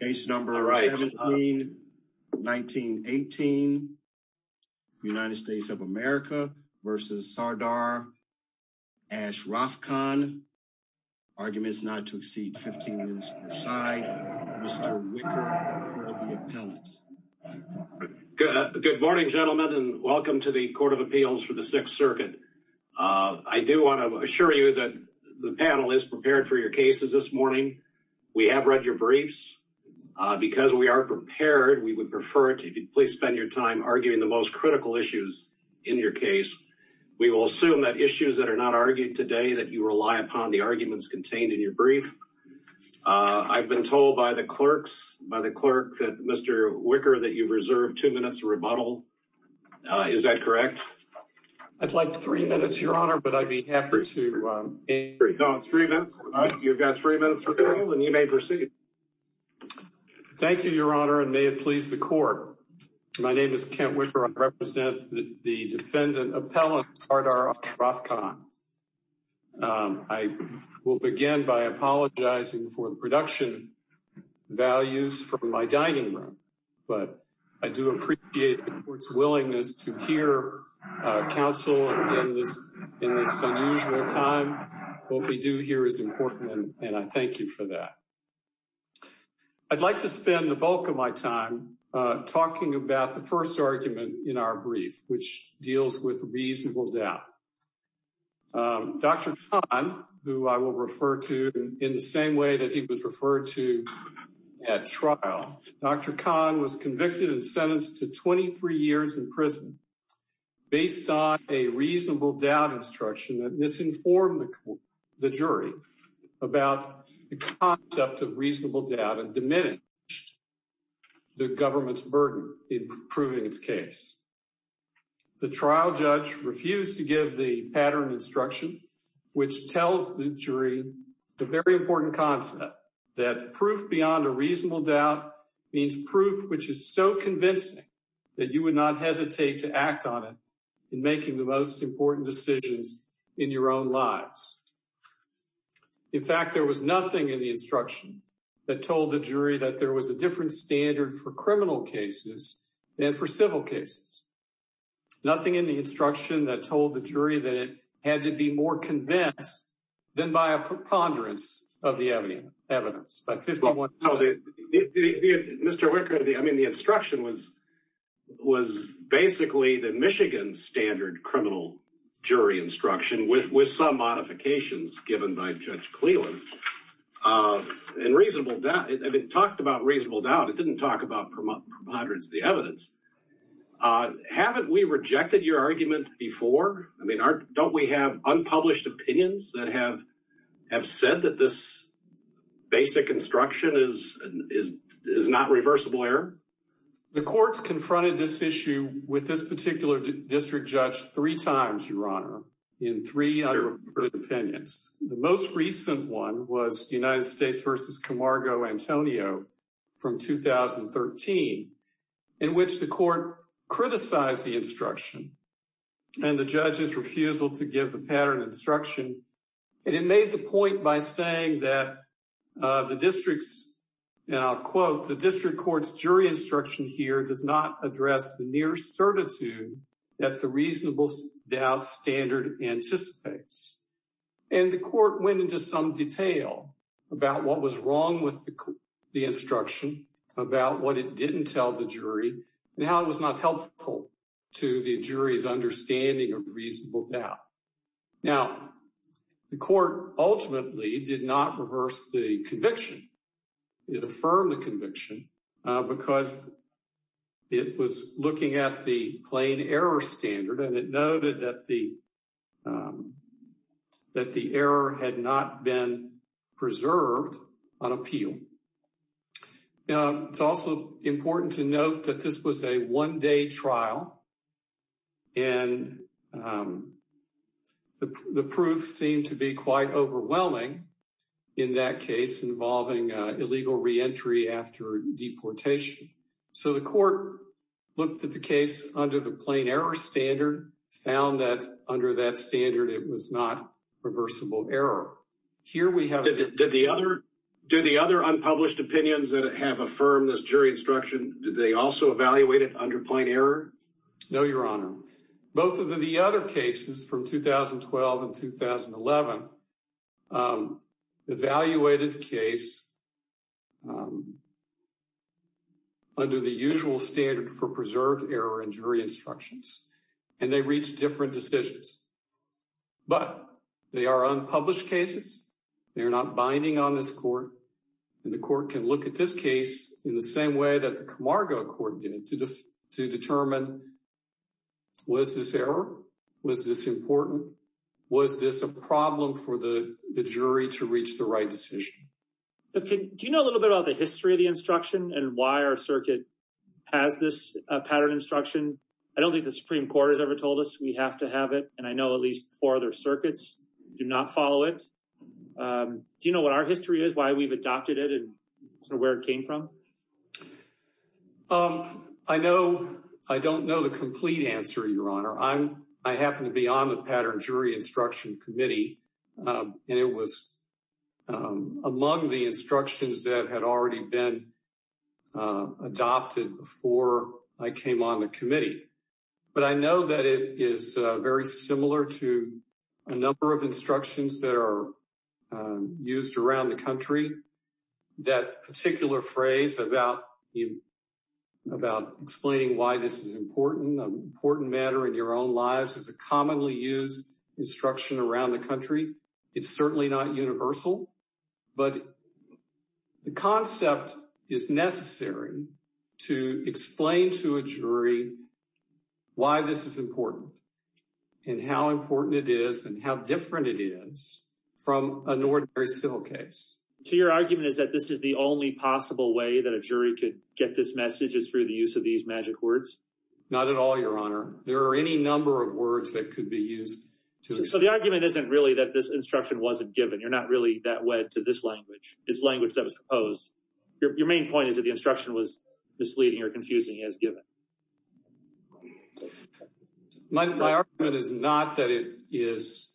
Case number 17, 1918, United States of America versus Sardar Ashrafkhan. Arguments not to exceed 15 minutes per side. Mr. Wicker, Court of the Appellants. Good morning, gentlemen, and welcome to the Court of Appeals for the Sixth Circuit. I do want to assure you that the panel is prepared for your cases this morning. We have read your briefs. Because we are prepared, we would prefer it if you'd please spend your time arguing the most critical issues in your case. We will assume that issues that are not argued today that you rely upon the arguments contained in your brief. I've been told by the clerks, by the clerk, that Mr. Wicker, that you've reserved two minutes to rebuttal. Is that correct? I'd like three minutes, Your Honor, but I'd be happy to... No, three minutes. You've got three minutes, and you may proceed. Thank you, Your Honor, and may it please the Court. My name is Kent Wicker. I represent the Defendant Appellant Sardar Ashrafkhan. I will begin by apologizing for the production values from my dining room, but I do appreciate the Court's willingness to hear counsel in this unusual time. What we do here is important, and I thank you for that. I'd like to spend the bulk of my time talking about the first argument in our brief, which deals with reasonable doubt. Dr. Khan, who I will refer to in the same way that he was referred to at trial, Dr. Khan was convicted and sentenced to 23 years in prison based on a reasonable doubt instruction that misinformed the jury about the concept of reasonable doubt and diminished the government's burden in proving its case. The trial judge refused to give the pattern instruction, which tells the jury the very important concept that proof beyond a reasonable doubt means proof which is so convincing that you would not hesitate to act on it in making the most important decisions in your own lives. In fact, there was nothing in the instruction that told the jury that there was a different standard for criminal cases than for civil cases. Nothing in the instruction that told the jury that had to be more convinced than by a preponderance of the evidence. Mr. Wicker, the instruction was basically the Michigan standard criminal jury instruction with some modifications given by Judge Cleland. It talked about reasonable doubt, it didn't talk about preponderance of the evidence. Haven't we rejected your argument before? I mean, don't we have unpublished opinions that have said that this basic instruction is not reversible error? The courts confronted this issue with this particular district judge three times, your honor, in three other opinions. The most recent one was the United States v. Camargo Antonio from 2013, in which the court criticized the instruction and the judge's refusal to give the pattern instruction. It made the point by saying that the district's, and I'll quote, the district court's jury instruction here does not address the near certitude that the reasonable doubt standard anticipates. The court went into some detail about what was wrong with the instruction, about what it didn't tell the jury, and how it wasn't helpful to the jury's understanding of reasonable doubt. Now, the court ultimately did not reverse the conviction. It affirmed the conviction because it was looking at the plain error standard and it noted that the error had not been preserved on appeal. It's also important to note that this was a one-day trial and the proof seemed to be quite overwhelming in that case involving illegal re-entry after deportation. So the court looked at the case under the plain error standard, found that under that standard it was not reversible error. Do the other unpublished opinions that have affirmed this jury instruction, did they also evaluate it under plain error? No, your honor. Both of the other cases from 2012 and 2011 evaluated the case under the usual standard for preserved error in jury instructions, and they reached different decisions. But they are unpublished cases, they're not binding on this court, and the court can look at this case in the same way that the Camargo court did to determine was this error, was this important, was this a problem for the jury to reach the right decision. Okay, do you know a little bit about the history of the instruction and why our Supreme Court has ever told us we have to have it, and I know at least four other circuits do not follow it. Do you know what our history is, why we've adopted it, and sort of where it came from? I don't know the complete answer, your honor. I happen to be on the Pattern Jury Instruction Committee, and it was among the instructions that had already been adopted before I came on the committee. But I know that it is very similar to a number of instructions that are used around the country. That particular phrase about explaining why this is an important matter in your own lives is a commonly used instruction around the country. It's certainly not universal, but the concept is necessary to explain to a jury why this is important and how important it is and how different it is from an ordinary civil case. So your argument is that this is the only possible way that a jury could get this message is through the use of these magic words? Not at all, your honor. There are any of words that could be used. So the argument isn't really that this instruction wasn't given. You're not really that wed to this language, this language that was proposed. Your main point is that the instruction was misleading or confusing as given. My argument is not that it is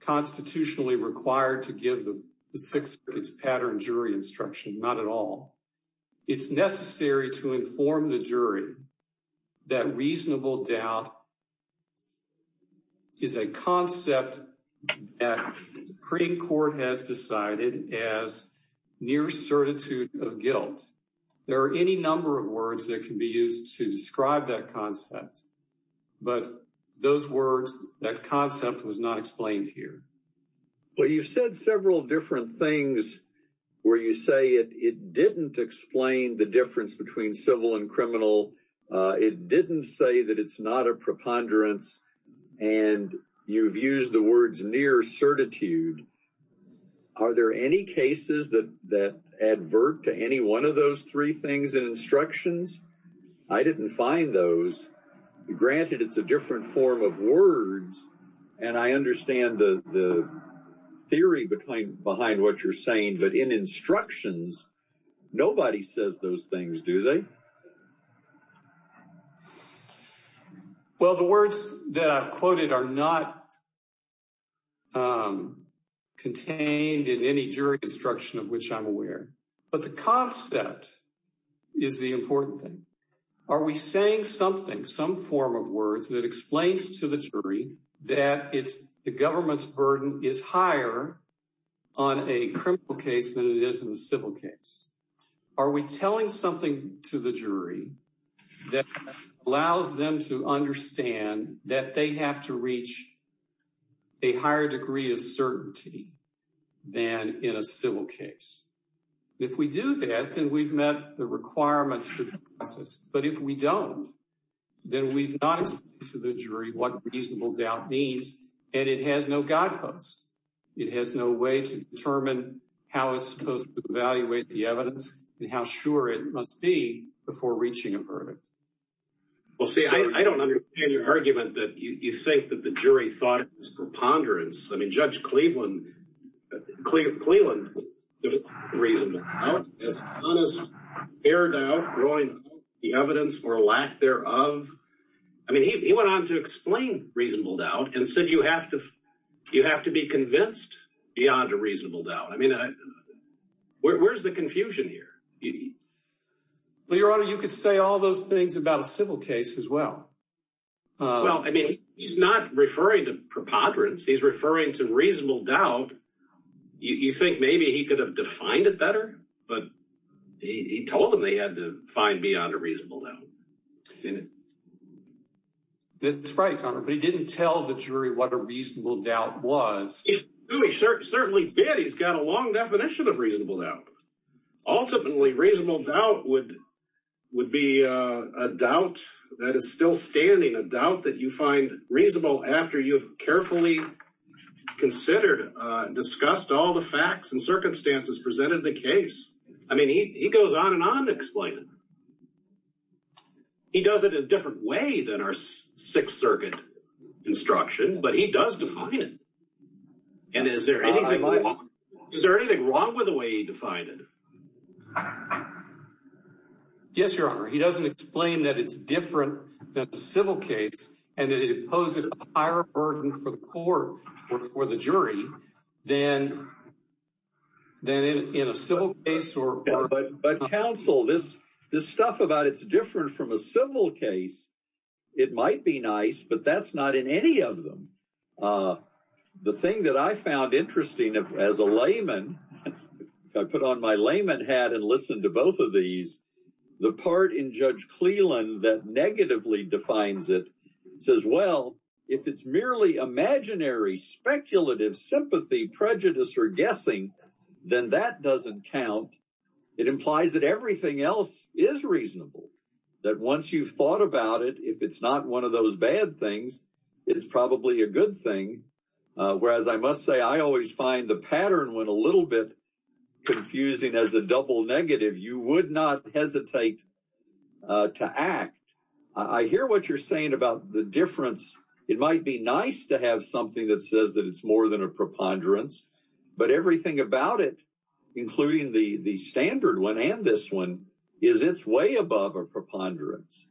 constitutionally required to give the Sixth Circuit's Pattern Jury Instruction, not at all. It's necessary to inform the jury that reasonable doubt is a concept that the Supreme Court has decided as near certitude of guilt. There are any number of words that can be used to describe that concept. But those words, that concept was not explained here. Well, you've said several different things where you say it didn't explain the difference between civil and criminal. It didn't say that it's not a preponderance. And you've used the words near certitude. Are there any cases that advert to any one of those three things in instructions? I didn't find those. Granted, it's a different form of words. And I understand the theory behind what you're saying. But in instructions, nobody says those things, do they? Well, the words that I quoted are not contained in any jury instruction of which I'm aware. But the concept is the important thing. Are we saying something, some form of words that explains to the jury that the government's burden is higher on a criminal case than it is in a civil case? Are we telling something to the jury that allows them to understand that they have to reach a higher degree of certainty than in a civil case? If we do that, then we've met the requirements But if we don't, then we've not explained to the jury what reasonable doubt means. And it has no guideposts. It has no way to determine how it's supposed to evaluate the evidence and how sure it must be before reaching a verdict. Well, see, I don't understand your argument that you think that the jury thought it was preponderance. I mean, Judge Cleveland has honest, fair doubt growing out of the evidence or lack thereof. I mean, he went on to explain reasonable doubt and said you have to be convinced beyond a reasonable doubt. I mean, where's the confusion here? Well, Your Honor, you could say all those things about a civil case as well. Well, I mean, he's not referring to preponderance. He's referring to reasonable doubt. You think maybe he could have defined it better, but he told them they had to find beyond a reasonable doubt. That's right, Your Honor, but he didn't tell the jury what a reasonable doubt was. He certainly did. He's got a long definition of reasonable doubt. Ultimately, reasonable doubt would be a doubt that is still standing, a doubt that you find reasonable after you've carefully considered, discussed all the facts and circumstances presented in the case. I mean, he goes on and on to explain it. He does it a different way than our Sixth Circuit instruction, but he does define it. And is there anything wrong with the way he defined it? Yes, Your Honor. He doesn't explain that it's different than a civil case and that it poses a higher burden for the court or for the jury than in a civil case. But counsel, this stuff about it's different from a civil case, it might be nice, but that's not in any of them. The thing that I found interesting as a layman, if I put on my layman hat and listen to both of these, the part in Judge Cleland that negatively defines it says, well, if it's merely imaginary, speculative, sympathy, prejudice, or guessing, then that doesn't count. It implies that everything else is reasonable, that once you've thought about it, if it's not one of those bad things, it is probably a good thing. Whereas I must say, I always find the pattern when a little bit confusing as a double negative, you would not hesitate to act. I hear what you're saying about the difference. It might be nice to have something that says that it's more than a preponderance, but everything about it, including the standard one and this one, is it's way above a preponderance.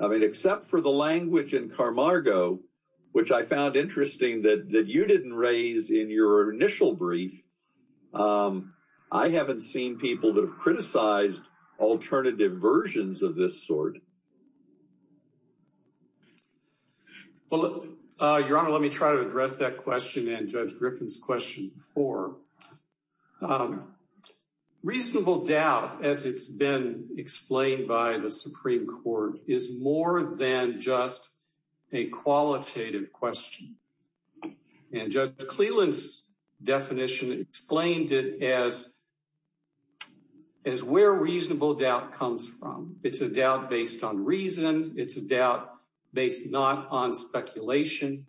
I mean, except for the language in Carmargo, which I found interesting that you didn't raise in your initial brief, I haven't seen people that have criticized alternative versions of this sort. Well, Your Honor, let me try to address that question and Judge Griffin's question before. Reasonable doubt, as it's been explained by the Supreme Court, is more than just a qualitative question. And Judge Cleland's definition explained it as where reasonable doubt comes from. It's a doubt based on reason. It's a doubt based not on speculation.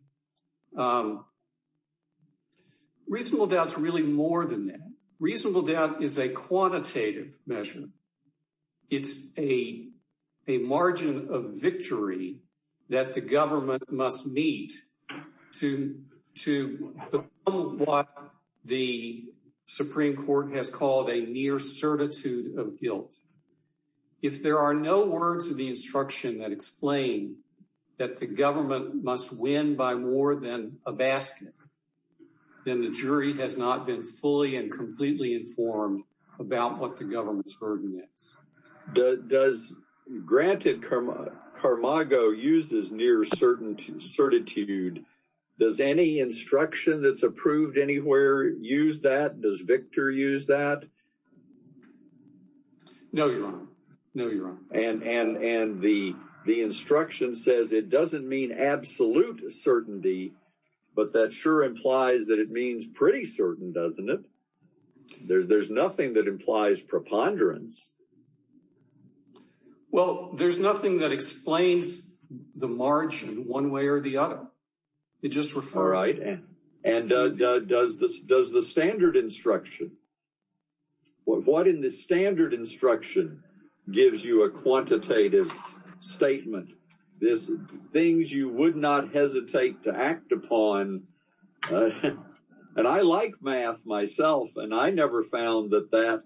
Reasonable doubt is really more than that. Reasonable doubt is a quantitative measure. It's a margin of victory that the government must meet to what the Supreme Court has called a near certitude of guilt. If there are no words in the instruction that explain that the government must win by more than a basket, then the jury has not been fully and completely informed about what the government's burden is. Granted, Carmargo uses near certitude. Does any instruction that's approved anywhere use that? Does Victor use that? No, Your Honor. No, Your Honor. And the instruction says it doesn't mean absolute certainty, but that sure implies that it means pretty certain, doesn't it? There's nothing that implies preponderance. Well, there's nothing that explains the margin one way or the other. It just refers... And does the standard instruction... What in the standard instruction gives you a quantitative statement? Things you would not hesitate to act upon. And I like math myself, and I never found that that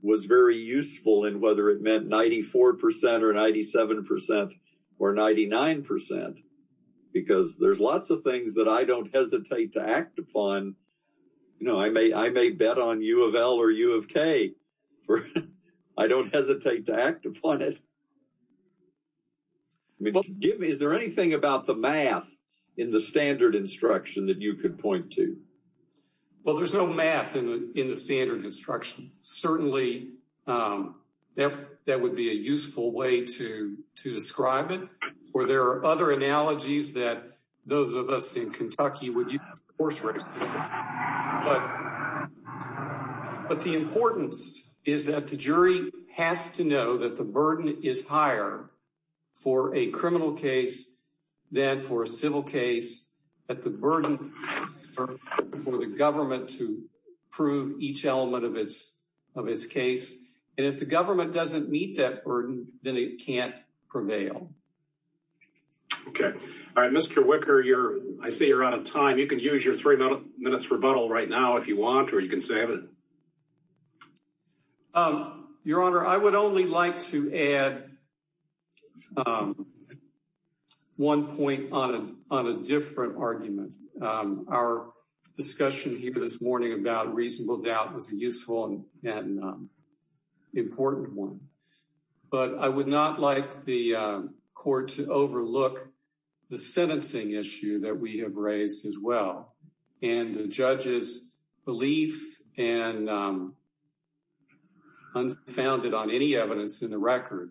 was very useful in whether it meant 94 percent or 97 percent or 99 percent, because there's lots of things that I don't hesitate to act upon. I may bet on U of L or U of K. I don't hesitate to act upon it. Is there anything about the math in the standard instruction that you could point to? Well, there's no math in the standard instruction. Certainly, that would be a useful way to describe it, or there are other analogies that those of us in Kentucky would use. But the importance is that the jury has to know that the burden is higher for a criminal case than for a civil case, that the burden for the government to prove each element of its case. And if the government doesn't meet that burden, then it can't prevail. Okay. All right. Mr. Wicker, I see you're out of time. You can use your three minutes rebuttal right now if you want, or you can save it. Your Honor, I would only like to add one point on a different argument. Our discussion here this morning about reasonable doubt was a useful and important one. But I would not like the court to overlook the sentencing issue that we have raised as well, and the judge's belief, and unfounded on any evidence in the record,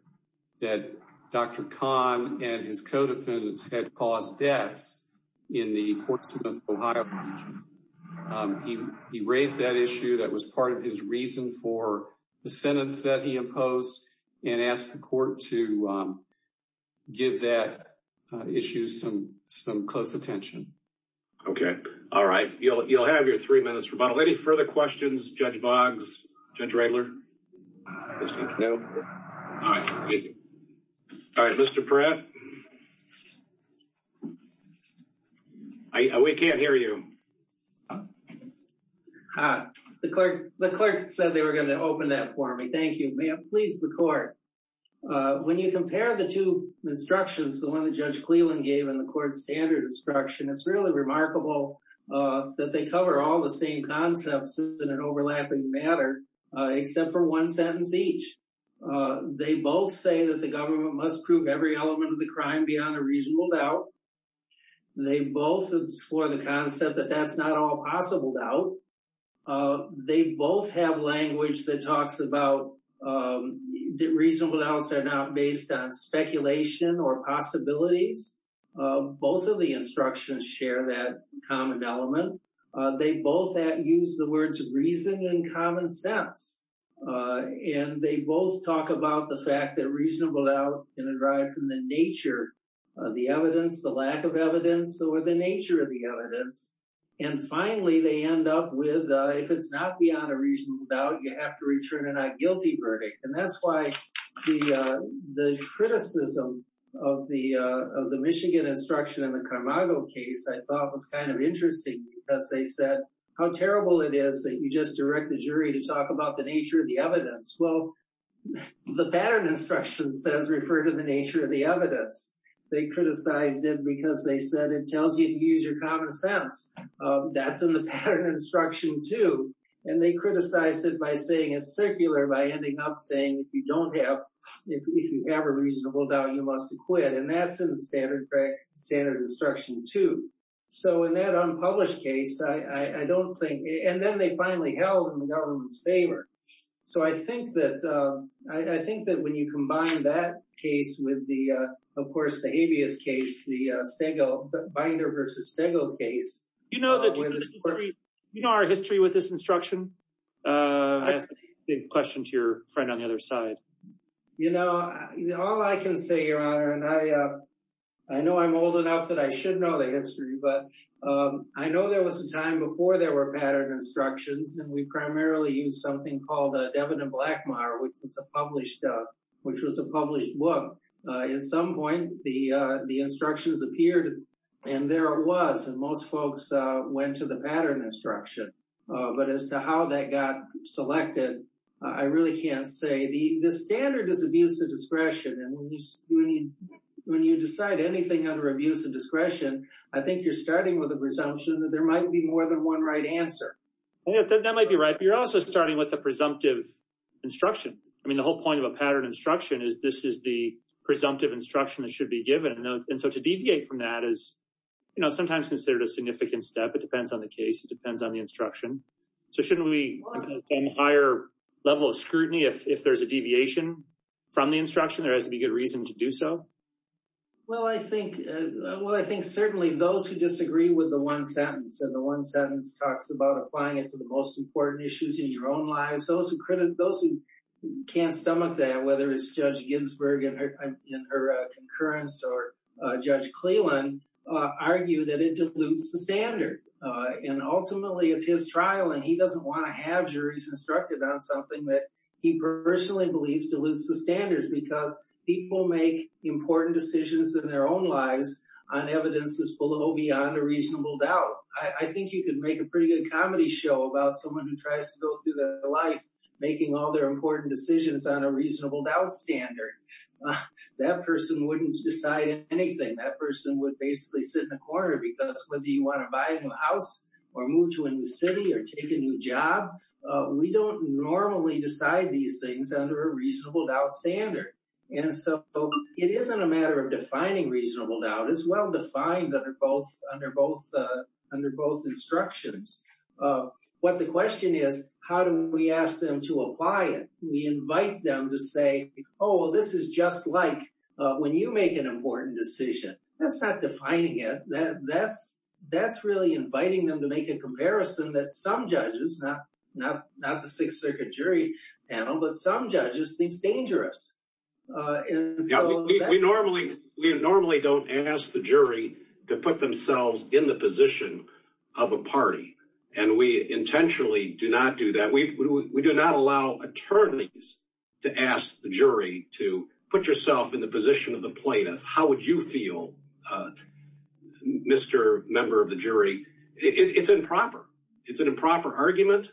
that Dr. Khan and his co-defendants had caused deaths in the Portsmouth, Ohio region. He raised that issue that was part of his reason for the sentence that he imposed, and asked the court to give that issue some close attention. Okay. All right. You'll have your three minutes rebuttal. Any further questions? Judge Boggs? Judge Riegler? No? All right. Thank you. All right. Mr. Perrette? We can't hear you. Hi. The clerk said they were going to open that for me. Thank you. May it please the court. When you compare the two instructions, the one that Judge Cleland gave and the court's standard instruction, it's really remarkable that they cover all the same concepts in an overlapping matter, except for one sentence each. They both say that the government must prove every element of the crime beyond a reasonable doubt. They both explore the concept that that's not all possible doubt. They both have language that talks about that reasonable doubts are not based on speculation or possibilities. Both of the instructions share that common element. They both use the words reason and common sense. And they both talk about the fact that reasonable doubt can derive from the nature of the evidence, the lack of evidence, or the nature of the evidence. And finally, they end up with, if it's not beyond a reasonable doubt, you have to return a not guilty verdict. And that's why the criticism of the Michigan instruction in the Carmago case I thought was kind of interesting because they said, how terrible it is that you just direct the jury to talk about the nature of the evidence. Well, the pattern instruction says refer to the nature of the evidence. They criticized it because they said it tells you to use your common sense. That's in the pattern instruction too. And they criticize it by saying it's circular, by ending up saying if you don't have if you have a reasonable doubt, you must acquit. And that's in the standard instruction too. So in that unpublished case, I don't think, and then they finally held in the government's favor. So I think that when you combine that case with the, of course, the habeas case, the Stego, Binder v. Stego case. Do you know our history with this instruction? I asked a big question to your friend on the other side. You know, all I can say, Your Honor, and I I know I'm old enough that I should know the history, but I know there was a time before there were pattern instructions, and we primarily used something called a Devin and Blackmar, which was a published book. At some point, the instructions appeared, and there it was. And most folks went to the pattern instruction. But as to how that got selected, I really can't say. The standard is abuse of discretion, and when you decide anything under abuse of discretion, I think you're starting with a presumption that there might be more than one right answer. That might be right, but you're also starting with a presumptive instruction. I mean, the whole point of a pattern instruction is this is the presumptive instruction that should be given. And so to deviate from that is, you know, sometimes considered a significant step. It depends on the case. It depends on the instruction. So shouldn't we have a higher level of scrutiny if there's a deviation from the instruction? There has to be good reason to do so. Well, I think, well, I think certainly those who disagree with the one sentence, and the one sentence talks about applying it to the most important issues in your own lives, those who can't stomach that, whether it's Judge Ginsburg in her concurrence or Judge Cleland, argue that it dilutes the standard. And ultimately, it's his trial, and he doesn't want to have juries instructed on something that he personally believes dilutes the standards, because people make important decisions in their own lives on evidences below beyond a reasonable doubt. I think you can make a pretty good comedy show about someone who tries to go through their life making all their important decisions on a reasonable doubt standard. That person wouldn't decide anything. That person would basically sit in a corner, because whether you want to buy a new house, or move to a new city, or take a new job, we don't normally decide these things under a reasonable doubt standard. And so it isn't a matter of defining reasonable doubt. It's well under both instructions. What the question is, how do we ask them to apply it? We invite them to say, oh, this is just like when you make an important decision. That's not defining it. That's really inviting them to make a comparison that some judges, not the Sixth Circuit jury panel, but some judges think is dangerous. We normally don't ask the jury to put themselves in the position of a party. And we intentionally do not do that. We do not allow attorneys to ask the jury to put yourself in the position of the plaintiff. How would you feel, Mr. Member of the jury? It's improper. It's an improper argument.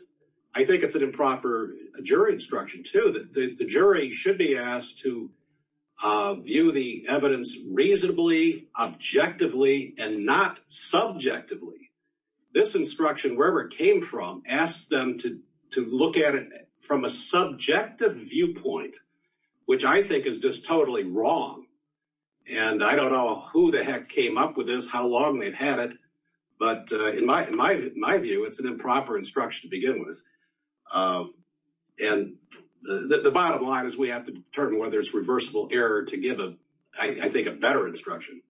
I think it's an improper jury instruction, too, the jury should be asked to view the evidence reasonably, objectively, and not subjectively. This instruction, wherever it came from, asks them to look at it from a subjective viewpoint, which I think is just totally wrong. And I don't know who the heck came up with this, how long they've had it. But in my view, it's an improper instruction to begin with. And the bottom line is we have to determine whether it's reversible error to give, I think, a better instruction.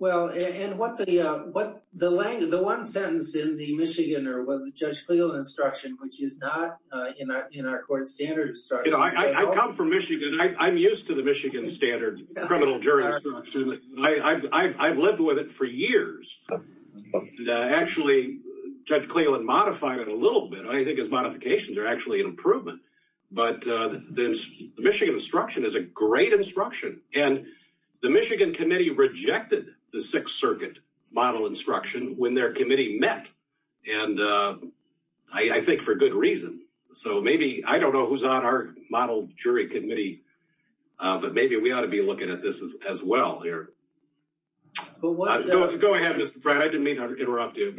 Well, and the one sentence in the Michigan or with Judge Cleland instruction, which is not in our court standard instruction. I come from Michigan. I'm used to the Michigan standard criminal jury instruction. I've lived with it for years. Actually, Judge Cleland modified it a little bit. I think his modifications are actually an improvement. But the Michigan instruction is a great instruction. And the Michigan committee rejected the Sixth Circuit model instruction when their committee met. And I think for good reason. So maybe, I don't know who's on our model jury committee, but maybe we ought to be looking at this as well here. Go ahead, Mr. Fratt. I didn't mean to interrupt you.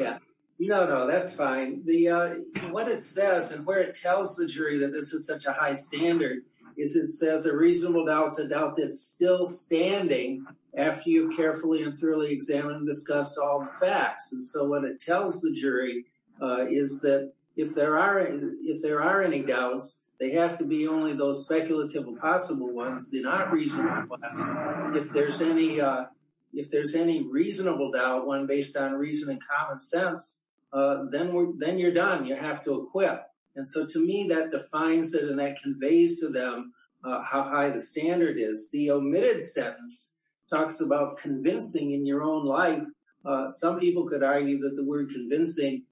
No, no, that's fine. What it says and where it tells the jury that this is such a high standard is it says a reasonable doubt is a doubt that's still standing after you carefully and thoroughly examine and discuss all the facts. And so what it tells the jury is that if there are any doubts, they have to be only those speculative and possible ones. If there's any reasonable doubt, one based on reason and common sense, then you're done. You have to acquit. And so to me, that defines it and that conveys to them how high the standard is. The omitted sentence talks about convincing in your own life. Some people could argue that the word convincing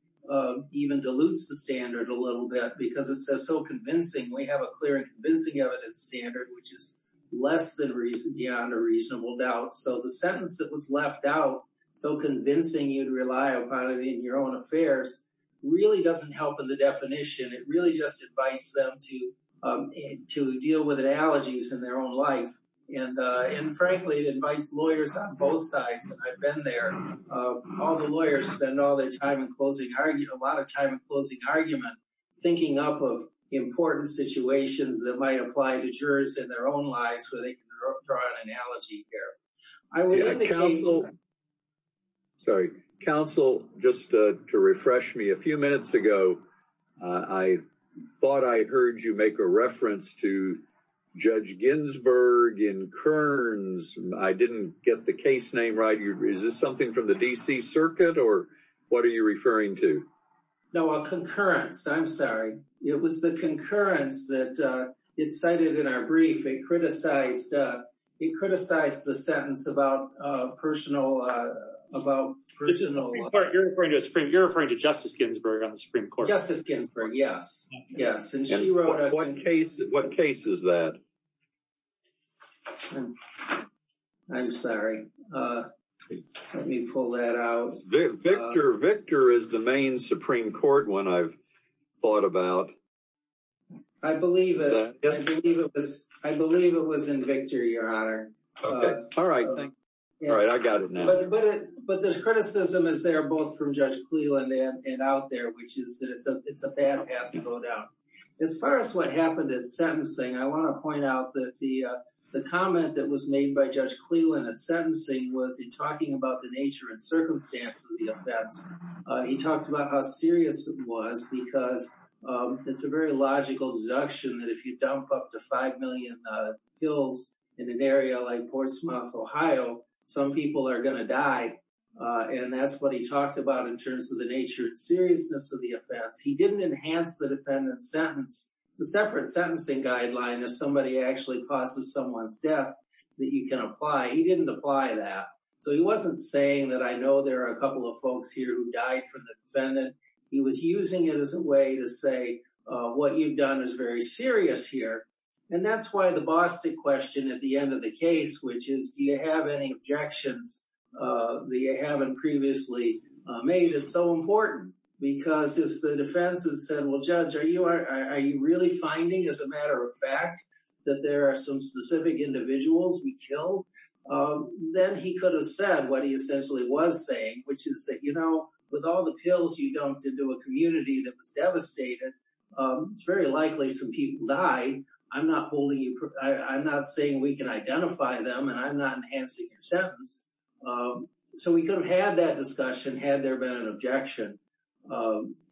even dilutes the standard a little bit because it says so convincing. We have a clear and convincing evidence standard, which is less than beyond a reasonable doubt. So the sentence that was left out, so convincing you'd rely upon it in your own affairs, really doesn't help in the definition. It really just invites them to deal with allergies in their own life. And frankly, it invites lawyers on both sides. I've been there. All the lawyers spend all their time in a lot of time in closing argument, thinking up of important situations that might apply to jurors in their own lives where they can draw an analogy here. I would like to counsel. Sorry, counsel, just to refresh me a few minutes ago, I thought I heard you make a reference to Judge Ginsburg in Kearns. I didn't get the case name right. Is this something from the D.C. Circuit, or what are you referring to? No, a concurrence. I'm sorry. It was the concurrence that it cited in our brief. It criticized the sentence about personal... You're referring to Justice Ginsburg on the Supreme Court. Justice Ginsburg, yes. Yes. What case is that? I'm sorry. Let me pull that out. Victor is the main Supreme Court one I've thought about. I believe it. I believe it was in Victor, Your Honor. All right. I got it now. But the criticism is there both from Judge Cleland and out there, which is that it's a bad path to go down. As far as what happened at sentencing, I want to point out that the comment that was made by Judge Cleland at sentencing was in talking about the nature and circumstances of the offense. He talked about how serious it was, because it's a very logical deduction that if you dump up to 5 million pills in an area like Portsmouth, Ohio, some people are going to die. And that's what he talked about in terms of the nature and seriousness of the offense. He didn't enhance the defendant's sentence. It's a separate sentencing guideline if somebody actually causes someone's death that you can apply. He didn't apply that. So he wasn't saying that I know there are a couple of folks here who died for the defendant. He was using it as a way to say what you've done is very serious here. And that's why the Boston question at the end of the case, which is, do you have any objections that you haven't previously made, is so important. Because if the defense has said, well, Judge, are you really finding, as a matter of fact, that there are some specific individuals we killed, then he could have said what he essentially was saying, which is that, you know, with all the pills you dumped into a community that was devastated, it's very likely some people died. I'm not saying we can identify them, and I'm not enhancing your sentence. So we could have had that discussion had there been an objection.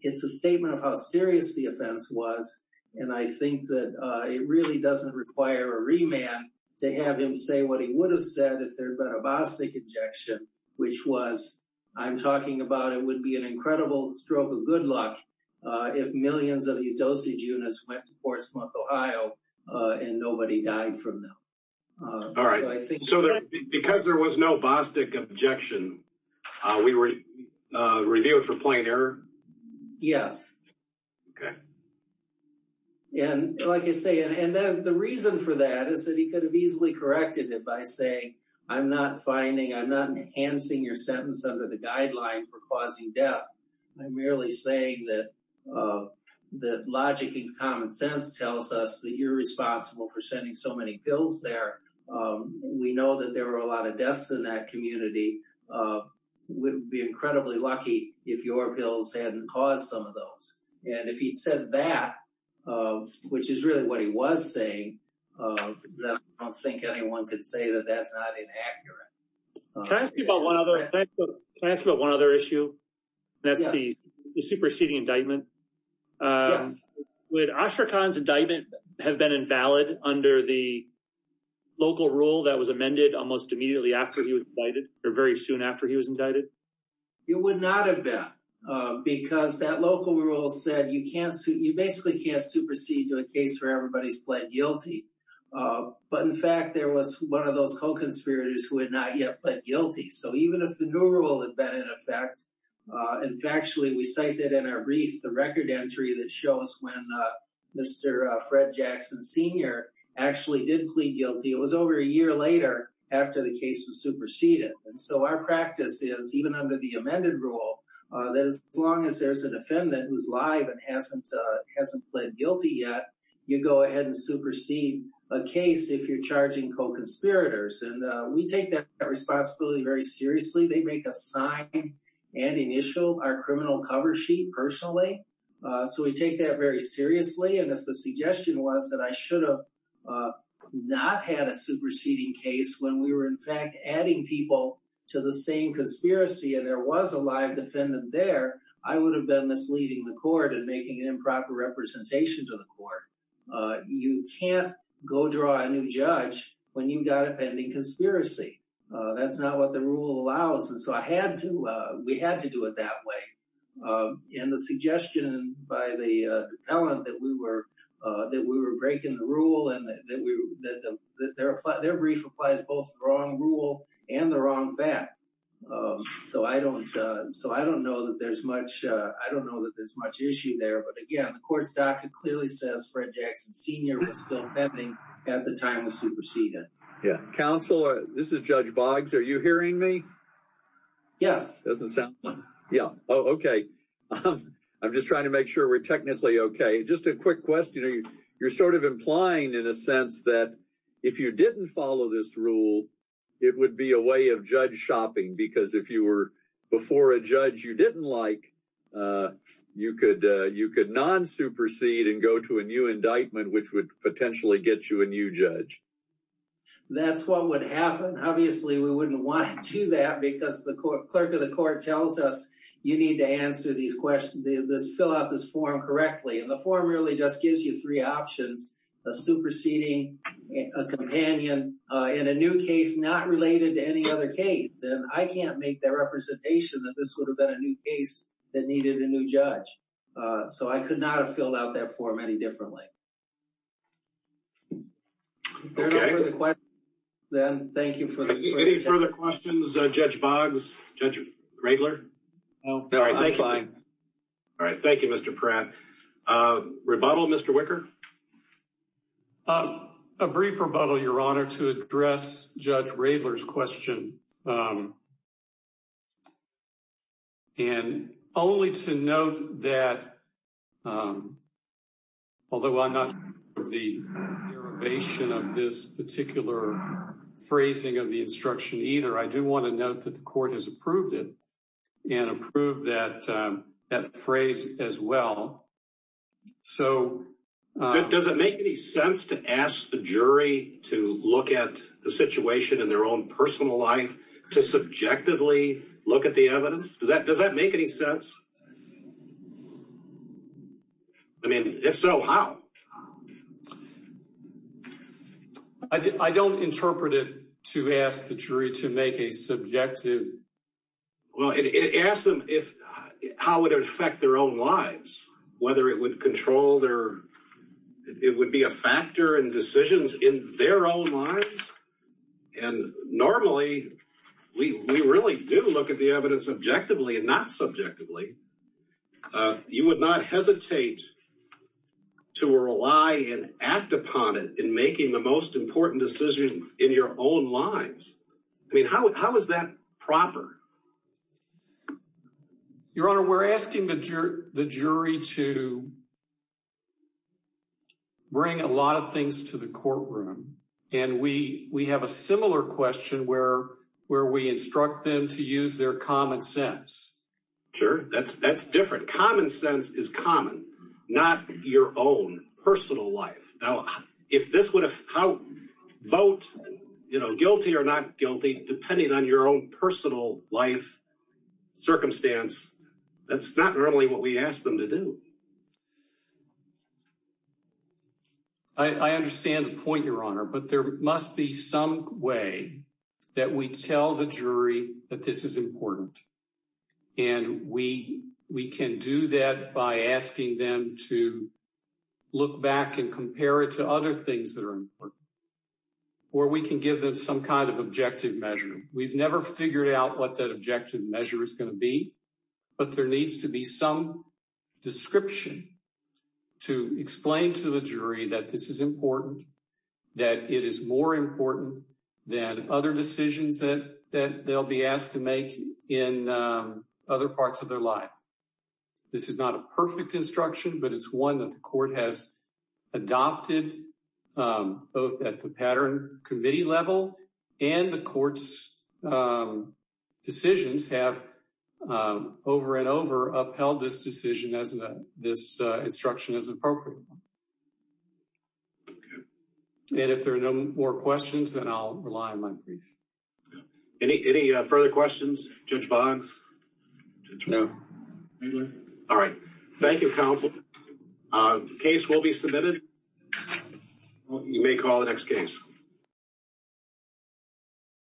It's a statement of how serious the offense was. And I think that it really doesn't require a remand to have him say what he would have said if there had been a Bostick objection, which was, I'm talking about it would be an incredible stroke of good luck if millions of these dosage units went to Portsmouth, Ohio, and nobody died from them. All right. So because there was no Bostick objection, we review it for plain error? Yes. Okay. And like I say, and then the reason for that is that he could have easily corrected it by saying, I'm not finding, I'm not enhancing your sentence under the guideline for causing death. I'm merely saying that logic and common sense tells us that you're responsible for so many pills there. We know that there were a lot of deaths in that community. We'd be incredibly lucky if your pills hadn't caused some of those. And if he'd said that, which is really what he was saying, I don't think anyone could say that that's not inaccurate. Can I ask you about one other issue? That's the superseding indictment. Yes. Would Ashraq Khan's indictment have been invalid under the local rule that was amended almost immediately after he was indicted or very soon after he was indicted? It would not have been because that local rule said you can't, you basically can't supersede to a case where everybody's pled guilty. But in fact, there was one of those co-conspirators who had not yet pled guilty. So even if the new rule had been in effect, and factually we cite that in our brief, the record entry that shows when Mr. Fred Jackson Sr. actually did plead guilty, it was over a year later after the case was superseded. And so our practice is even under the amended rule, that as long as there's a defendant who's live and hasn't pled guilty yet, you go ahead and supersede a case if you're charging co-conspirators. And we take that so we take that very seriously. And if the suggestion was that I should have not had a superseding case when we were in fact adding people to the same conspiracy and there was a live defendant there, I would have been misleading the court and making an improper representation to the court. You can't go draw a new judge when you've got a pending conspiracy. That's not what the rule allows. And so we had to do it that way. And the suggestion by the appellant that we were breaking the rule and that their brief applies both the wrong rule and the wrong fact. So I don't know that there's much issue there. But again, the court's docket clearly says Fred Jackson Sr. was still pending at the time of superseding. Yeah. Counselor, this is Judge Boggs. Are you hearing me? Yes. Okay. I'm just trying to make sure we're technically okay. Just a quick question. You're sort of implying in a sense that if you didn't follow this rule, it would be a way of judge shopping. Because if you were before a judge you didn't like, you could non-supersede and go to a new indictment which would potentially get you a new judge. That's what would happen. Obviously, we wouldn't want to do that because the clerk of the court tells us you need to answer these questions, fill out this form correctly. And the form really just gives you three options, a superseding, a companion, and a new case not related to any other case. And I can't make that representation that this would have been a new case that needed a new judge. So, I could not have filled out that form any differently. Okay. Thank you for the question. Any further questions, Judge Boggs? Judge Raedler? No. All right. Thank you, Mr. Pratt. Rebuttal, Mr. Wicker? A brief rebuttal, Your Honor, to address Judge Raedler's question. And only to note that, although I'm not sure of the derivation of this particular phrasing of the instruction either, I do want to note that the court has approved it and approved that phrase as well. So, does it make any sense to ask the jury to look at the situation in their own personal life to subjectively look at the evidence? Does that make any sense? I mean, if so, how? I don't interpret it to ask the jury to make a subjective... Well, it asks them how it would affect their own lives, whether it would control their... And normally, we really do look at the evidence objectively and not subjectively. You would not hesitate to rely and act upon it in making the most important decisions in your own lives. I mean, how is that proper? Your Honor, we're asking the jury to bring a lot of things to the courtroom. And we have a similar question where we instruct them to use their common sense. Sure. That's different. Common sense is common, not your own personal life. Now, if this would affect vote, guilty or not guilty, depending on your own personal life circumstance, that's not normally what we ask them to do. I understand the point, Your Honor, but there must be some way that we tell the jury that this is important. And we can do that by asking them to look back and compare it to other things that are important. Or we can give them some kind of objective measure. We've never figured out what objective measure is going to be, but there needs to be some description to explain to the jury that this is important, that it is more important than other decisions that they'll be asked to make in other parts of their life. This is not a perfect instruction, but it's one that the have over and over upheld this decision as this instruction is appropriate. And if there are no more questions, then I'll rely on my brief. Any further questions, Judge Boggs? No. All right. Thank you, counsel. Case will be submitted. You may call the next case.